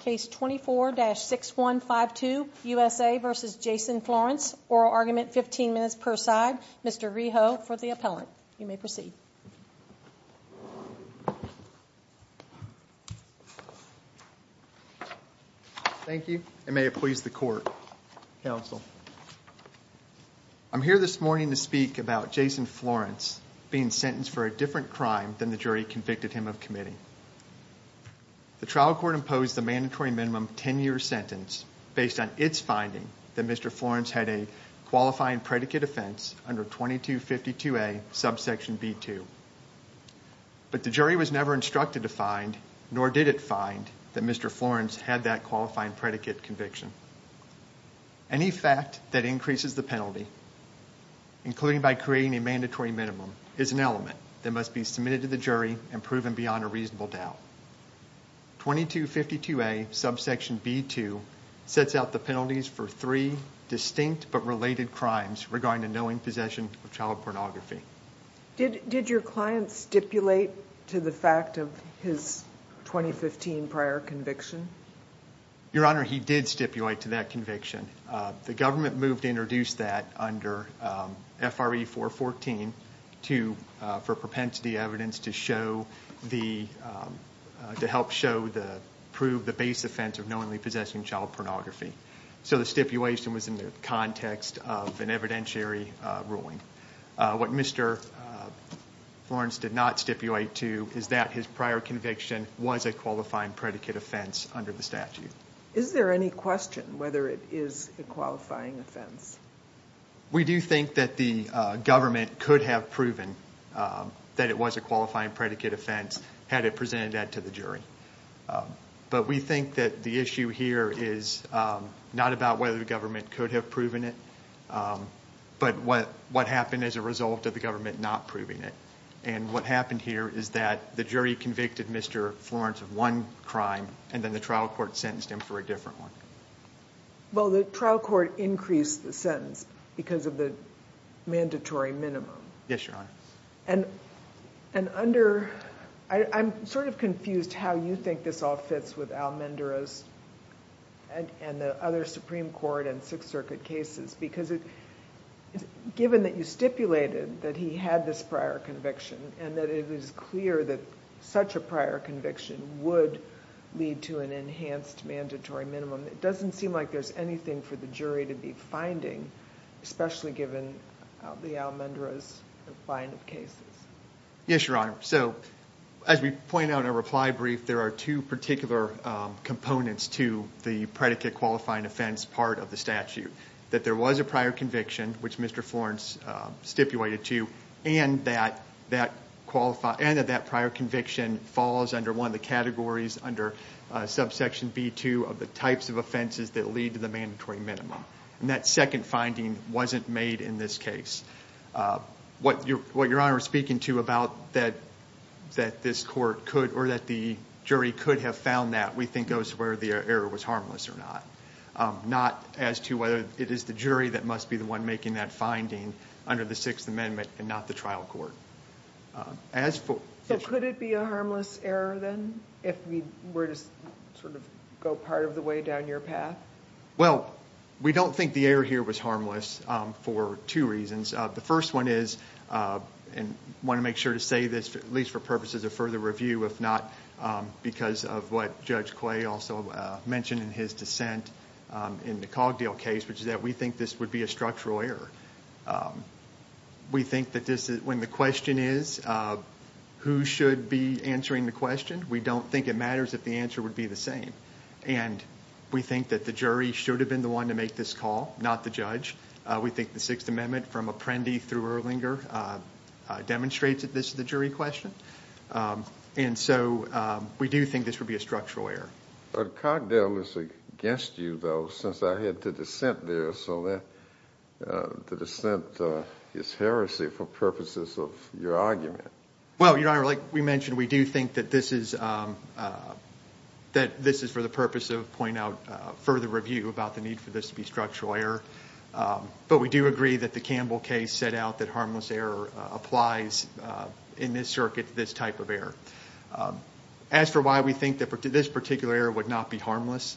Case 24-6152, USA v. Jason Florence, Oral Argument, 15 minutes per side. Mr. Reho for the appellant. You may proceed. Thank you, and may it please the Court, Counsel. I'm here this morning to speak about Jason Florence being sentenced for a different crime than the jury convicted him of committing. The trial court imposed the mandatory minimum 10-year sentence based on its finding that Mr. Florence had a qualifying predicate offense under 2252A, subsection B2. But the jury was never instructed to find, nor did it find, that Mr. Florence had that qualifying predicate conviction. Any fact that increases the penalty, including by creating a mandatory minimum, is an element that must be submitted to the jury and proven beyond a reasonable doubt. 2252A, subsection B2, sets out the penalties for three distinct but related crimes regarding the knowing possession of child pornography. Did your client stipulate to the fact of his 2015 prior conviction? Your Honor, he did stipulate to that conviction. The government moved to introduce that under FRE 414 for propensity evidence to help prove the base offense of knowingly possessing child pornography. So the stipulation was in the context of an evidentiary ruling. What Mr. Florence did not stipulate to is that his prior conviction was a qualifying predicate offense under the statute. Is there any question whether it is a qualifying offense? We do think that the government could have proven that it was a qualifying predicate offense had it presented that to the jury. But we think that the issue here is not about whether the government could have proven it, but what happened as a result of the government not proving it. And what happened here is that the jury convicted Mr. Florence of one crime and then the trial court sentenced him for a different one. Well, the trial court increased the sentence because of the mandatory minimum. Yes, Your Honor. I'm sort of confused how you think this all fits with Al Mendera's and the other Supreme Court and Sixth Circuit cases. Given that you stipulated that he had this prior conviction and that it was clear that such a prior conviction would lead to an enhanced mandatory minimum, it doesn't seem like there's anything for the jury to be finding, especially given the Al Mendera's line of cases. Yes, Your Honor. So, as we point out in our reply brief, there are two particular components to the predicate qualifying offense part of the statute. That there was a prior conviction, which Mr. Florence stipulated to, and that that prior conviction falls under one of the categories under subsection B-2 of the types of offenses that lead to the mandatory minimum. And that second finding wasn't made in this case. What Your Honor is speaking to about that this court could, or that the jury could have found that, we think goes where the error was harmless or not. Not as to whether it is the jury that must be the one making that finding under the Sixth Amendment and not the trial court. So could it be a harmless error then, if we were to sort of go part of the way down your path? Well, we don't think the error here was harmless for two reasons. The first one is, and I want to make sure to say this, at least for purposes of further review, if not because of what Judge Quay also mentioned in his dissent in the Cogdale case, which is that we think this would be a structural error. We think that when the question is, who should be answering the question, we don't think it matters if the answer would be the same. And we think that the jury should have been the one to make this call, not the judge. We think the Sixth Amendment from Apprendi through Erlinger demonstrates that this is the jury question. And so we do think this would be a structural error. But Cogdale is against you, though, since I heard the dissent there. So the dissent is heresy for purposes of your argument. Well, Your Honor, like we mentioned, we do think that this is for the purpose of pointing out further review about the need for this to be a structural error. But we do agree that the Campbell case set out that harmless error applies in this circuit to this type of error. As for why we think that this particular error would not be harmless,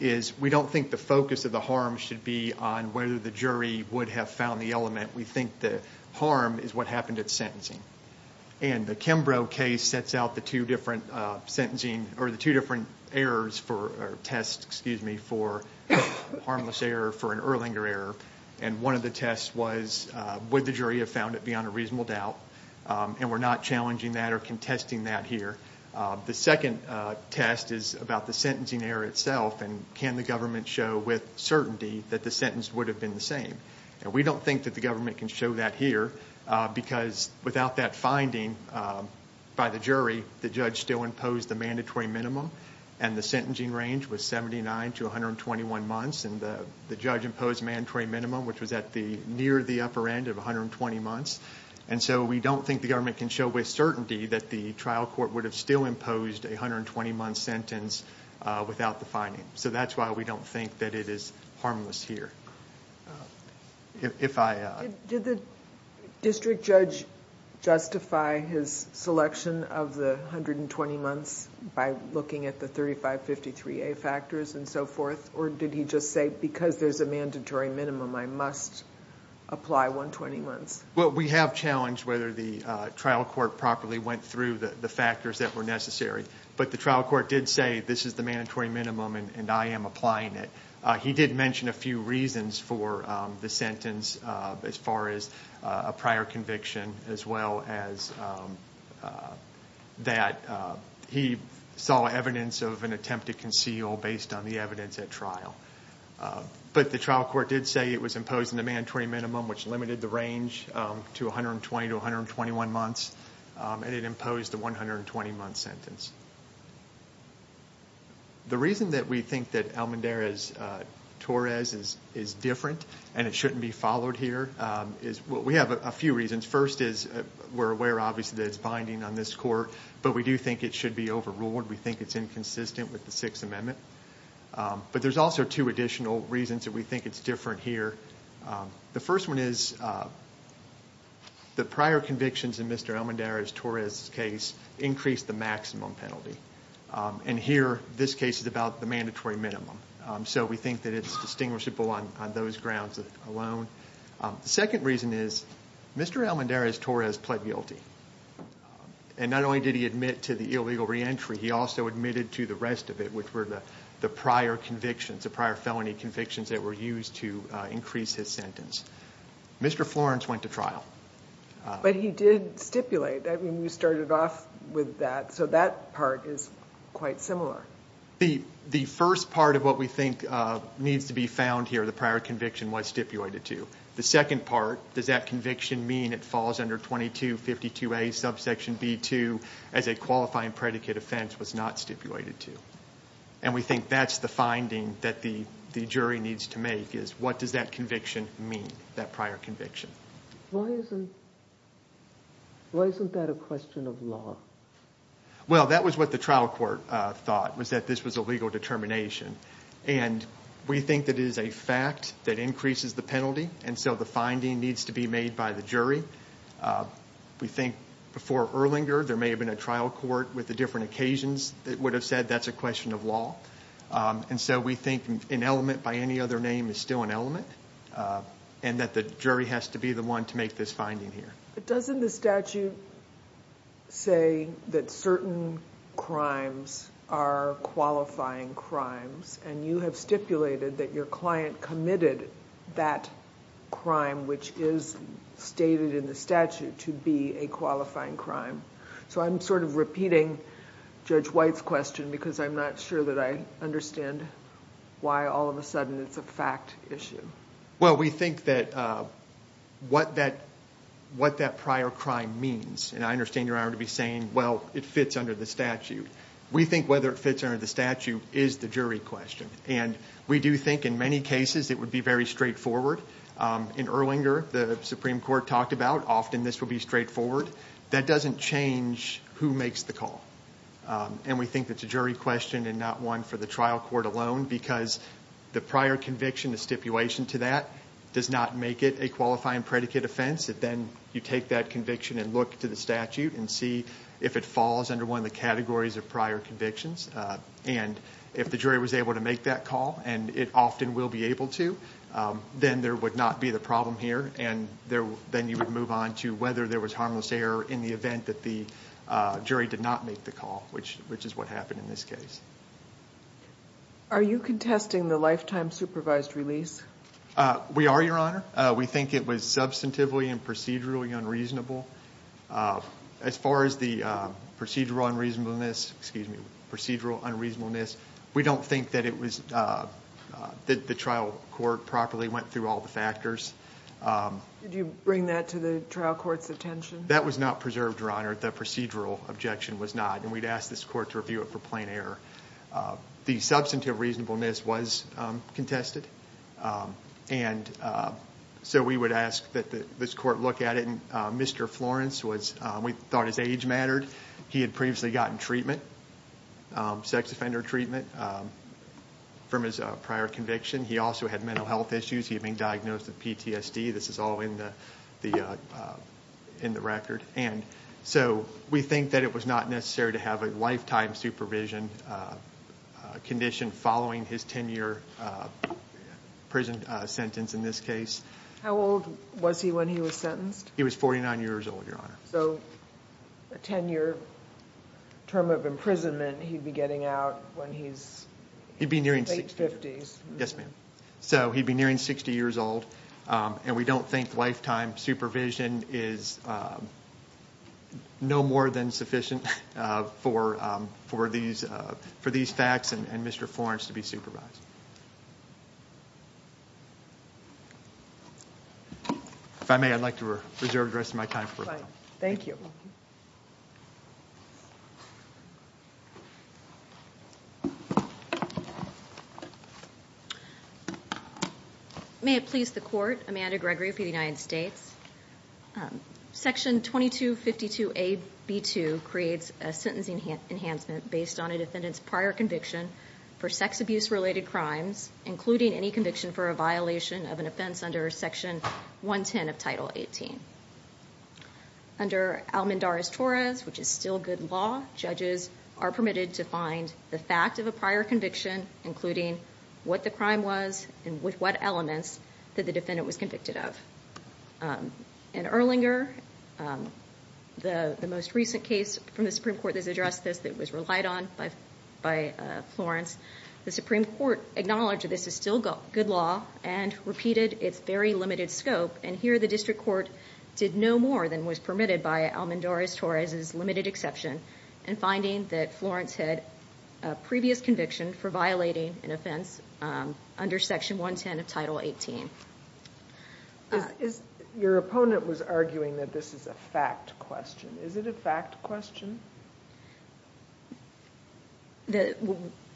is we don't think the focus of the harm should be on whether the jury would have found the element. We think the harm is what happened at sentencing. And the Kimbrough case sets out the two different sentencing or the two different errors for tests, excuse me, for harmless error, for an Erlinger error. And one of the tests was would the jury have found it beyond a reasonable doubt. And we're not challenging that or contesting that here. The second test is about the sentencing error itself and can the government show with certainty that the sentence would have been the same. And we don't think that the government can show that here because without that finding by the jury, the judge still imposed the mandatory minimum. And the sentencing range was 79 to 121 months. And the judge imposed mandatory minimum, which was at the near the upper end of 120 months. And so we don't think the government can show with certainty that the trial court would have still imposed a 120-month sentence without the finding. So that's why we don't think that it is harmless here. If I... Did the district judge justify his selection of the 120 months by looking at the 3553A factors and so forth? Or did he just say because there's a mandatory minimum, I must apply 120 months? Well, we have challenged whether the trial court properly went through the factors that were necessary. But the trial court did say this is the mandatory minimum and I am applying it. He did mention a few reasons for the sentence as far as a prior conviction as well as that he saw evidence of an attempt to conceal based on the evidence at trial. But the trial court did say it was imposing the mandatory minimum, which limited the range to 120 to 121 months. And it imposed the 120-month sentence. The reason that we think that Almendarez-Torres is different and it shouldn't be followed here is... Well, we have a few reasons. First is we're aware obviously that it's binding on this court, but we do think it should be overruled. We think it's inconsistent with the Sixth Amendment. But there's also two additional reasons that we think it's different here. The first one is the prior convictions in Mr. Almendarez-Torres' case increased the maximum penalty. And here, this case is about the mandatory minimum. So we think that it's distinguishable on those grounds alone. The second reason is Mr. Almendarez-Torres pled guilty. And not only did he admit to the illegal reentry, he also admitted to the rest of it, which were the prior convictions, the prior felony convictions that were used to increase his sentence. Mr. Florence went to trial. But he did stipulate. I mean, we started off with that. So that part is quite similar. The first part of what we think needs to be found here, the prior conviction, was stipulated to. The second part, does that conviction mean it falls under 2252A, subsection B2, as a qualifying predicate offense, was not stipulated to. And we think that's the finding that the jury needs to make, is what does that conviction mean, that prior conviction. Why isn't that a question of law? Well, that was what the trial court thought, was that this was a legal determination. And we think that it is a fact that increases the penalty, and so the finding needs to be made by the jury. We think before Erlinger, there may have been a trial court with the different occasions that would have said that's a question of law. And so we think an element by any other name is still an element, and that the jury has to be the one to make this finding here. But doesn't the statute say that certain crimes are qualifying crimes? And you have stipulated that your client committed that crime, which is stated in the statute, to be a qualifying crime. So I'm sort of repeating Judge White's question, because I'm not sure that I understand why all of a sudden it's a fact issue. Well, we think that what that prior crime means, and I understand Your Honor to be saying, well, it fits under the statute. We think whether it fits under the statute is the jury question. And we do think in many cases it would be very straightforward. In Erlinger, the Supreme Court talked about often this would be straightforward. That doesn't change who makes the call. And we think it's a jury question and not one for the trial court alone, because the prior conviction, the stipulation to that, does not make it a qualifying predicate offense. Then you take that conviction and look to the statute and see if it falls under one of the categories of prior convictions. And if the jury was able to make that call, and it often will be able to, then there would not be the problem here. And then you would move on to whether there was harmless error in the event that the jury did not make the call, which is what happened in this case. Are you contesting the lifetime supervised release? We are, Your Honor. We think it was substantively and procedurally unreasonable. As far as the procedural unreasonableness, we don't think that the trial court properly went through all the factors. Did you bring that to the trial court's attention? That was not preserved, Your Honor. The procedural objection was not. And we'd ask this court to review it for plain error. The substantive reasonableness was contested. And so we would ask that this court look at it. Mr. Florence, we thought his age mattered. He had previously gotten treatment, sex offender treatment, from his prior conviction. He also had mental health issues. He had been diagnosed with PTSD. This is all in the record. And so we think that it was not necessary to have a lifetime supervision condition following his 10-year prison sentence in this case. How old was he when he was sentenced? He was 49 years old, Your Honor. So a 10-year term of imprisonment he'd be getting out when he's in his late 50s. So he'd be nearing 60 years old. And we don't think lifetime supervision is no more than sufficient for these facts and Mr. Florence to be supervised. If I may, I'd like to reserve the rest of my time for a moment. Thank you. May it please the court, Amanda Gregory for the United States. Section 2252A.B.2 creates a sentencing enhancement based on a defendant's prior conviction for sex abuse related crimes, including any conviction for a violation of an offense under Section 110 of Title 18. Under Almendarez-Torres, which is still good law, judges are permitted to find the fact of a prior conviction, including what the crime was and with what elements that the defendant was convicted of. In Erlinger, the most recent case from the Supreme Court that's addressed this that was relied on by Florence, the Supreme Court acknowledged this is still good law and repeated its very limited scope. And here the district court did no more than was permitted by Almendarez-Torres' limited exception in finding that Florence had a previous conviction for violating an offense under Section 110 of Title 18. Your opponent was arguing that this is a fact question. Is it a fact question?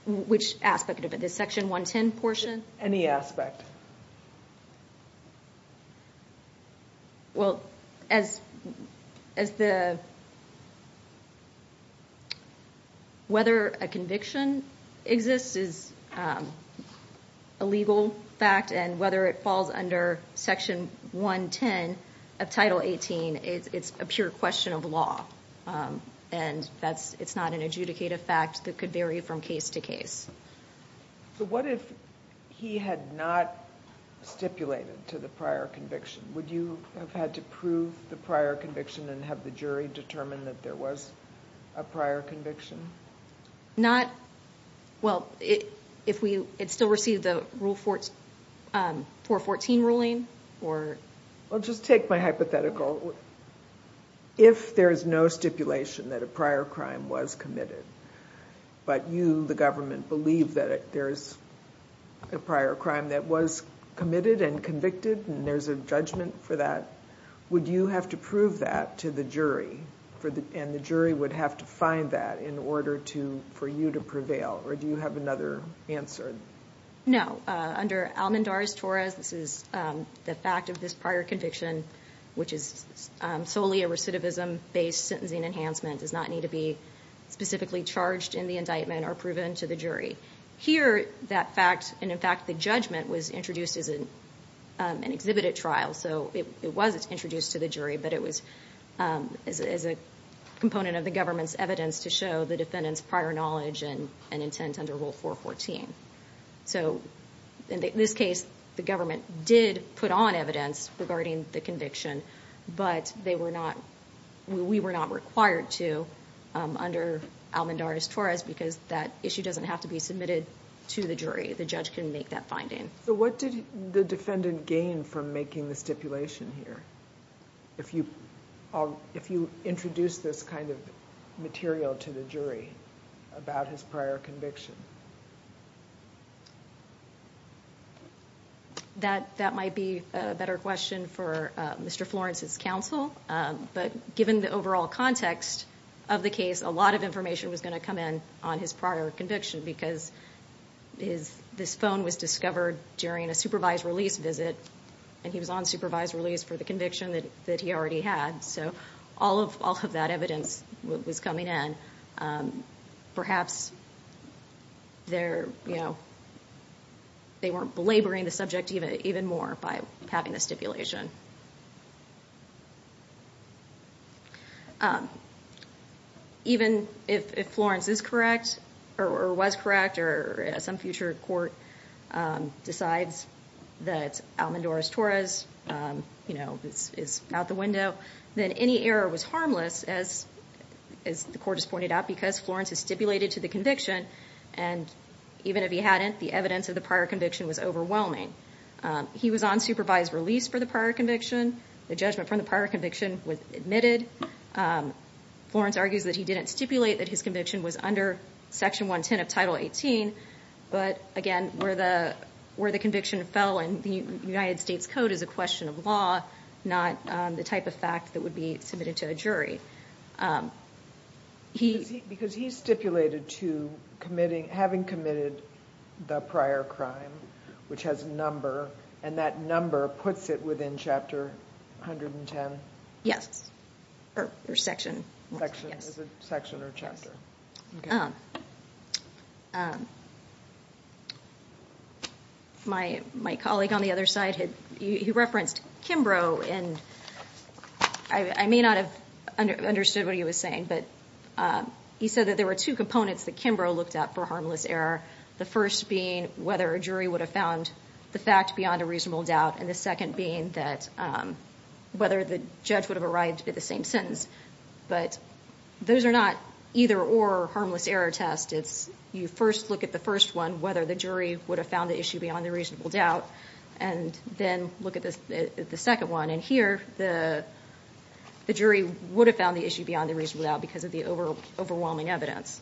Which aspect of it? The Section 110 portion? Any aspect. Well, whether a conviction exists is a legal fact, and whether it falls under Section 110 of Title 18, it's a pure question of law. And it's not an adjudicative fact that could vary from case to case. So what if he had not stipulated to the prior conviction? Would you have had to prove the prior conviction and have the jury determine that there was a prior conviction? Not, well, if we, it still received the Rule 414 ruling, or... Well, just take my hypothetical. If there's no stipulation that a prior crime was committed, but you, the government, believe that there's a prior crime that was committed and convicted, and there's a judgment for that, would you have to prove that to the jury, and the jury would have to find that in order for you to prevail? Or do you have another answer? No. Under Almandar's Torahs, this is the fact of this prior conviction, which is solely a recidivism-based sentencing enhancement, does not need to be specifically charged in the indictment or proven to the jury. Here, that fact, and in fact the judgment, was introduced as an exhibited trial. So it was introduced to the jury, but it was as a component of the government's evidence to show the defendant's prior knowledge and intent under Rule 414. So, in this case, the government did put on evidence regarding the conviction, but they were not, we were not required to, under Almandar's Torahs, because that issue doesn't have to be submitted to the jury. The judge can make that finding. So what did the defendant gain from making the stipulation here? If you introduce this kind of material to the jury about his prior conviction? That might be a better question for Mr. Florence's counsel, but given the overall context of the case, a lot of information was going to come in on his prior conviction, because this phone was discovered during a supervised release visit, and he was on supervised release for the conviction that he already had. So all of that evidence was coming in. Perhaps they weren't belaboring the subject even more by having the stipulation. Even if Florence is correct, or was correct, or some future court decides that Almandar's Torahs is out the window, then any error was harmless, as the court has pointed out, because Florence has stipulated to the conviction, and even if he hadn't, the evidence of the prior conviction was overwhelming. He was on supervised release for the prior conviction. The judgment from the prior conviction was admitted. Florence argues that he didn't stipulate that his conviction was under Section 110 of Title 18, but again, where the conviction fell in the United States Code is a question of law, not the type of fact that would be submitted to a jury. Because he's stipulated to having committed the prior crime, which has a number, and that number puts it within Chapter 110? Yes, or Section 110. Is it Section or Chapter? My colleague on the other side, he referenced Kimbrough, and I may not have understood what he was saying, but he said that there were two components that Kimbrough looked at for harmless error. The first being whether a jury would have found the fact beyond a reasonable doubt, and the second being that whether the judge would have arrived at the same sentence. But those are not either or harmless error tests. You first look at the first one, whether the jury would have found the issue beyond a reasonable doubt, and then look at the second one. And here, the jury would have found the issue beyond a reasonable doubt because of the overwhelming evidence.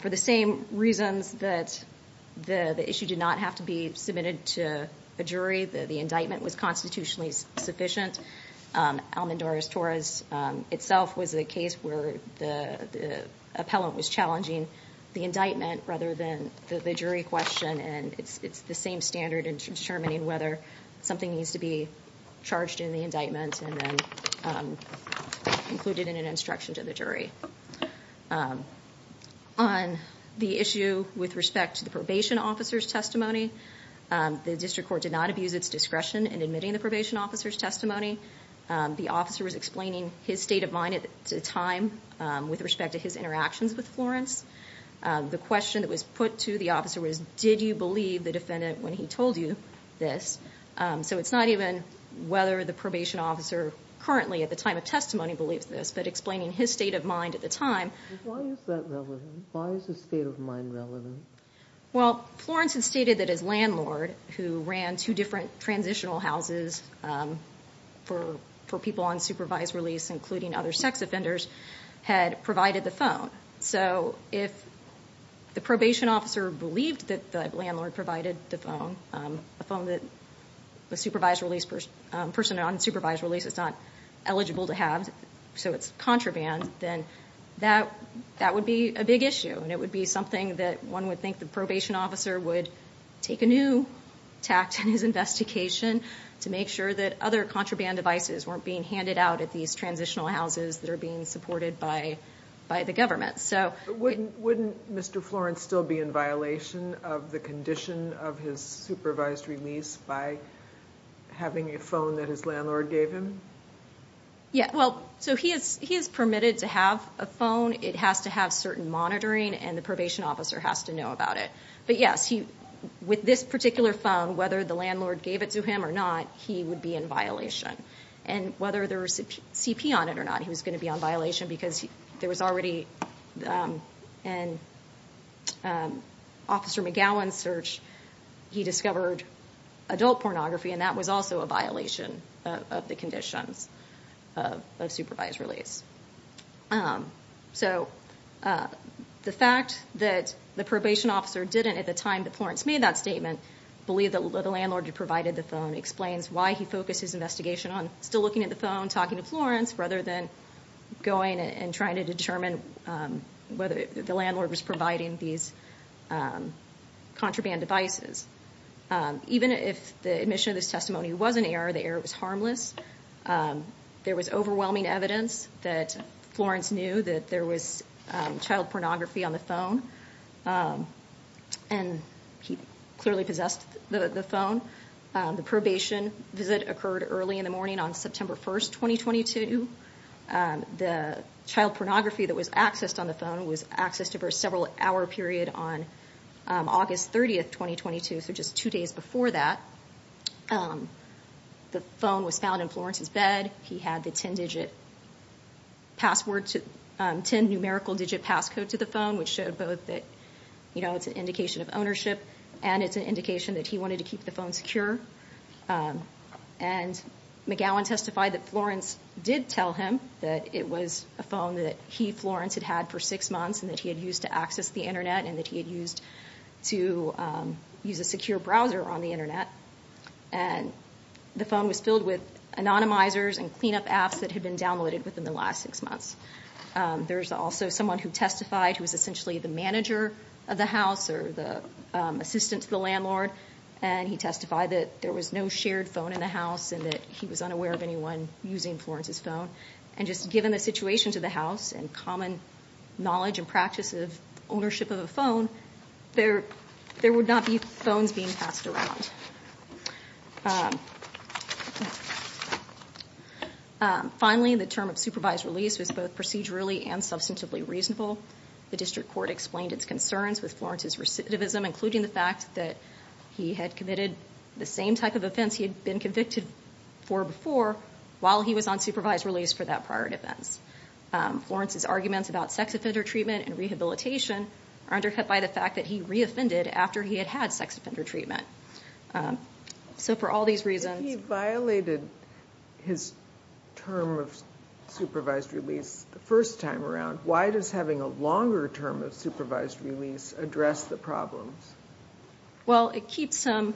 For the same reasons that the issue did not have to be submitted to a jury, the indictment was constitutionally sufficient. Almodovar-Torres, itself, was a case where the appellant was challenging the indictment rather than the jury question. And it's the same standard in determining whether something needs to be charged in the indictment and then included in an instruction to the jury. On the issue with respect to the probation officer's testimony, the district court did not abuse its discretion in admitting the probation officer's testimony. The officer was explaining his state of mind at the time with respect to his interactions with Florence. The question that was put to the officer was, did you believe the defendant when he told you this? So it's not even whether the probation officer currently at the time of testimony believes this, but explaining his state of mind at the time. Why is that relevant? Why is his state of mind relevant? Well, Florence had stated that his landlord, who ran two different transitional houses for people on supervised release, including other sex offenders, had provided the phone. So if the probation officer believed that the landlord provided the phone, a phone that a person on supervised release is not eligible to have, so it's contraband, then that would be a big issue. And it would be something that one would think the probation officer would take a new tact in his investigation to make sure that other contraband devices weren't being handed out at these transitional houses that are being supported by the government. Wouldn't Mr. Florence still be in violation of the condition of his supervised release by having a phone that his landlord gave him? Yeah, well, so he is permitted to have a phone. It has to have certain monitoring, and the probation officer has to know about it. But yes, with this particular phone, whether the landlord gave it to him or not, he would be in violation. And whether there was CP on it or not, he was going to be on violation because there was already an Officer McGowan search. He discovered adult pornography, and that was also a violation of the conditions of supervised release. So the fact that the probation officer didn't, at the time that Florence made that statement, believe that the landlord had provided the phone explains why he focused his investigation on still looking at the phone, talking to Florence, rather than going and trying to determine whether the landlord was providing these contraband devices. Even if the admission of this testimony was an error, the error was harmless. There was overwhelming evidence that Florence knew that there was child pornography on the phone. And he clearly possessed the phone. The probation visit occurred early in the morning on September 1st, 2022. The child pornography that was accessed on the phone was accessed over a several hour period on August 30th, 2022, so just two days before that. The phone was found in Florence's bed. He had the 10-digit passcode to the phone, which showed both that it's an indication of ownership and it's an indication that he wanted to keep the phone secure. And McGowan testified that Florence did tell him that it was a phone that he, Florence, had had for six months and that he had used to access the Internet and that he had used to use a secure browser on the Internet. And the phone was filled with anonymizers and cleanup apps that had been downloaded within the last six months. There's also someone who testified who was essentially the manager of the house or the assistant to the landlord, and he testified that there was no shared phone in the house and that he was unaware of anyone using Florence's phone. And just given the situation to the house and common knowledge and practice of ownership of a phone, there would not be phones being passed around. Finally, the term of supervised release was both procedurally and substantively reasonable. The district court explained its concerns with Florence's recidivism, including the fact that he had committed the same type of offense he had been convicted for before while he was on supervised release for that prior defense. Florence's arguments about sex offender treatment and rehabilitation are undercut by the fact that he re-offended after he had had sex offender treatment. So for all these reasons... If he violated his term of supervised release the first time around, why does having a longer term of supervised release address the problems? Well, it keeps him...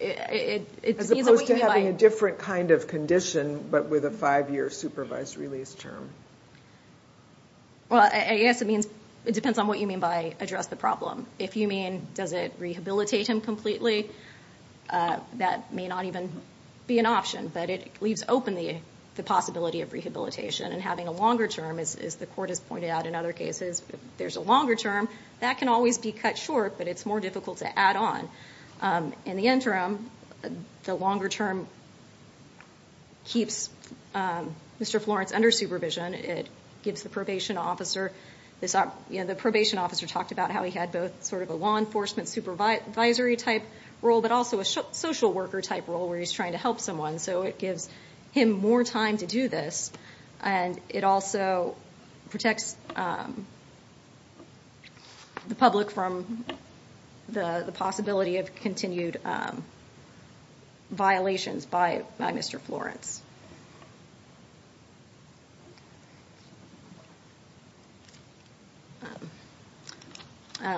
As opposed to having a different kind of condition but with a five-year supervised release term? Well, I guess it depends on what you mean by address the problem. If you mean, does it rehabilitate him completely? That may not even be an option, but it leaves open the possibility of rehabilitation. And having a longer term, as the court has pointed out in other cases, if there's a longer term, that can always be cut short, but it's more difficult to add on. In the interim, the longer term keeps Mr. Florence under supervision. It gives the probation officer... The probation officer talked about how he had both sort of a law enforcement supervisory type role, but also a social worker type role where he's trying to help someone. So it gives him more time to do this. And it also protects the public from the possibility of continued violations by Mr. Florence.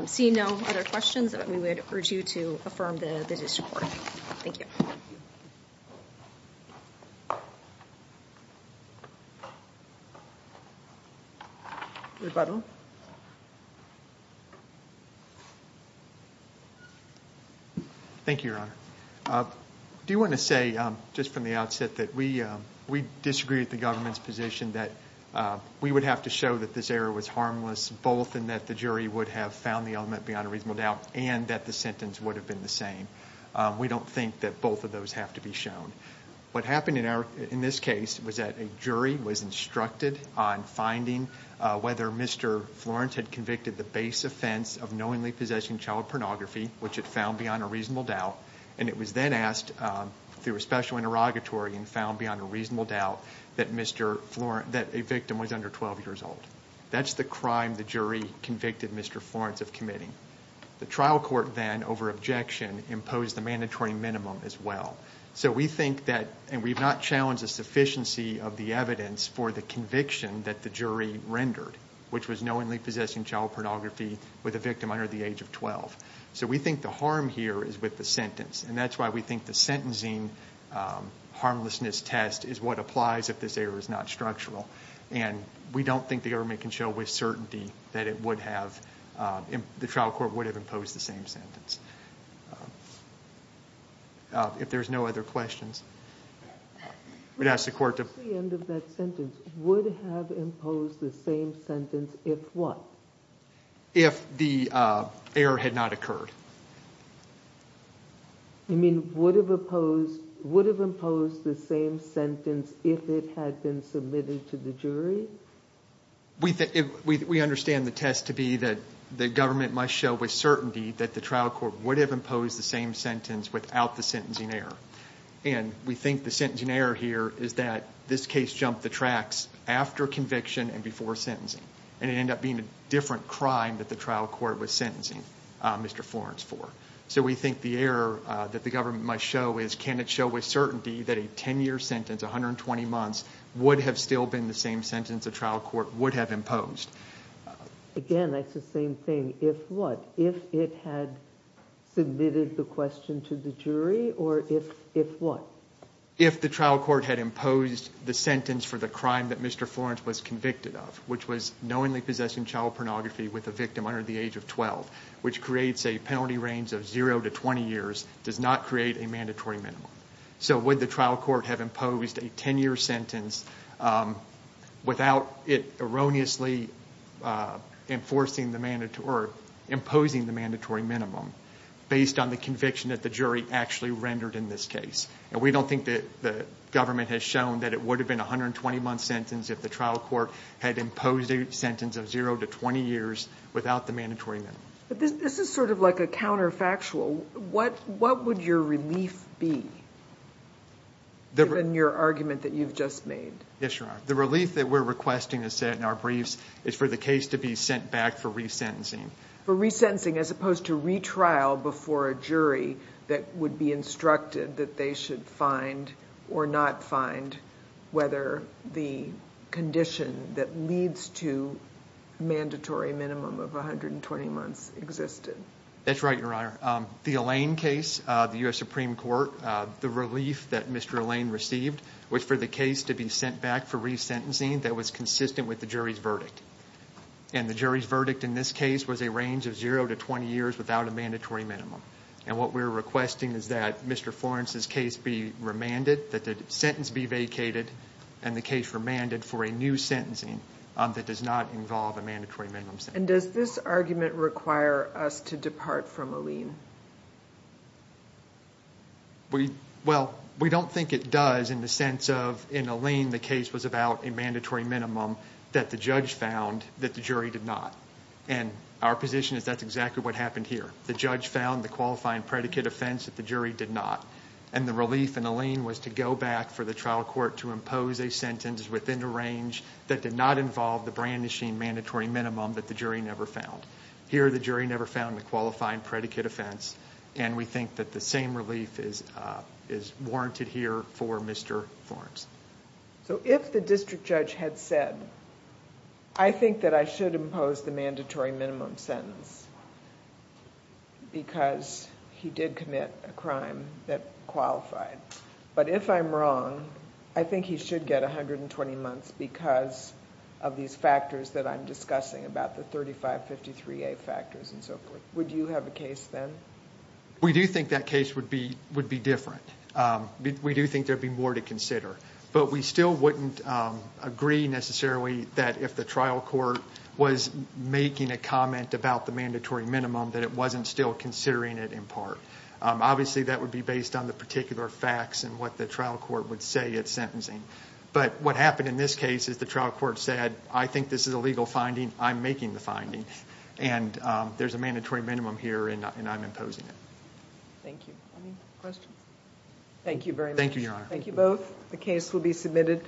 Seeing no other questions, we would urge you to affirm the district court. Thank you. Rebuttal. Thank you, Your Honor. Do you want to say, just from the outset, that we disagree with the government's position that we would have to show that this error was harmless, both in that the jury would have found the element beyond a reasonable doubt, and that the sentence would have been the same? We don't think that both of those have to be shown. What happened in this case was that a jury was instructed on finding whether Mr. Florence had convicted the base offense of knowingly possessing child pornography, which it found beyond a reasonable doubt, and it was then asked through a special interrogatory and found beyond a reasonable doubt that a victim was under 12 years old. That's the crime the jury convicted Mr. Florence of committing. The trial court then, over objection, imposed the mandatory minimum as well. So we think that, and we've not challenged the sufficiency of the evidence for the conviction that the jury rendered, which was knowingly possessing child pornography with a victim under the age of 12. So we think the harm here is with the sentence. And that's why we think the sentencing harmlessness test is what applies if this error is not structural. And we don't think the government can show with certainty that it would have, the trial court would have imposed the same sentence. If there's no other questions, we'd ask the court to... At the end of that sentence, would have imposed the same sentence if what? If the error had not occurred. You mean would have imposed the same sentence if it had been submitted to the jury? We understand the test to be that the government must show with certainty that the trial court would have imposed the same sentence without the sentencing error. And we think the sentencing error here is that this case jumped the tracks after conviction and before sentencing. And it ended up being a different crime that the trial court was sentencing Mr. Florence for. So we think the error that the government must show is, can it show with certainty that a 10-year sentence, 120 months, would have still been the same sentence the trial court would have imposed? Again, that's the same thing, if what? If it had submitted the question to the jury or if what? If the trial court had imposed the sentence for the crime that Mr. Florence was convicted of, which was knowingly possessing child pornography with a victim under the age of 12, which creates a penalty range of 0 to 20 years, does not create a mandatory minimum. So would the trial court have imposed a 10-year sentence without it erroneously imposing the mandatory minimum based on the conviction that the jury actually rendered in this case? And we don't think the government has shown that it would have been a 120-month sentence if the trial court had imposed a sentence of 0 to 20 years without the mandatory minimum. But this is sort of like a counterfactual. What would your relief be, given your argument that you've just made? Yes, Your Honor. The relief that we're requesting, as said in our briefs, is for the case to be sent back for resentencing. For resentencing, as opposed to retrial before a jury that would be instructed that they should find or not find whether the condition that leads to a mandatory minimum of 120 months existed. That's right, Your Honor. The Alain case, the U.S. Supreme Court, the relief that Mr. Alain received was for the case to be sent back for resentencing that was consistent with the jury's verdict. And the jury's verdict in this case was a range of 0 to 20 years without a mandatory minimum. And what we're requesting is that Mr. Florence's case be remanded, that the sentence be vacated, and the case remanded for a new sentencing that does not involve a mandatory minimum sentence. And does this argument require us to depart from Alain? Well, we don't think it does in the sense of in Alain the case was about a mandatory minimum that the judge found that the jury did not. And our position is that's exactly what happened here. The judge found the qualifying predicate offense that the jury did not. And the relief in Alain was to go back for the trial court to impose a sentence within the range that did not involve the brandishing mandatory minimum that the jury never found. Here the jury never found the qualifying predicate offense. And we think that the same relief is warranted here for Mr. Florence. So if the district judge had said, I think that I should impose the mandatory minimum sentence because he did commit a crime that qualified. But if I'm wrong, I think he should get 120 months because of these factors that I'm discussing, about the 3553A factors and so forth. Would you have a case then? We do think that case would be different. We do think there would be more to consider. But we still wouldn't agree necessarily that if the trial court was making a comment about the mandatory minimum that it wasn't still considering it in part. Obviously that would be based on the particular facts and what the trial court would say at sentencing. But what happened in this case is the trial court said, I think this is a legal finding. I'm making the finding. And there's a mandatory minimum here and I'm imposing it. Thank you. Any questions? Thank you very much. Thank you both. The case will be submitted.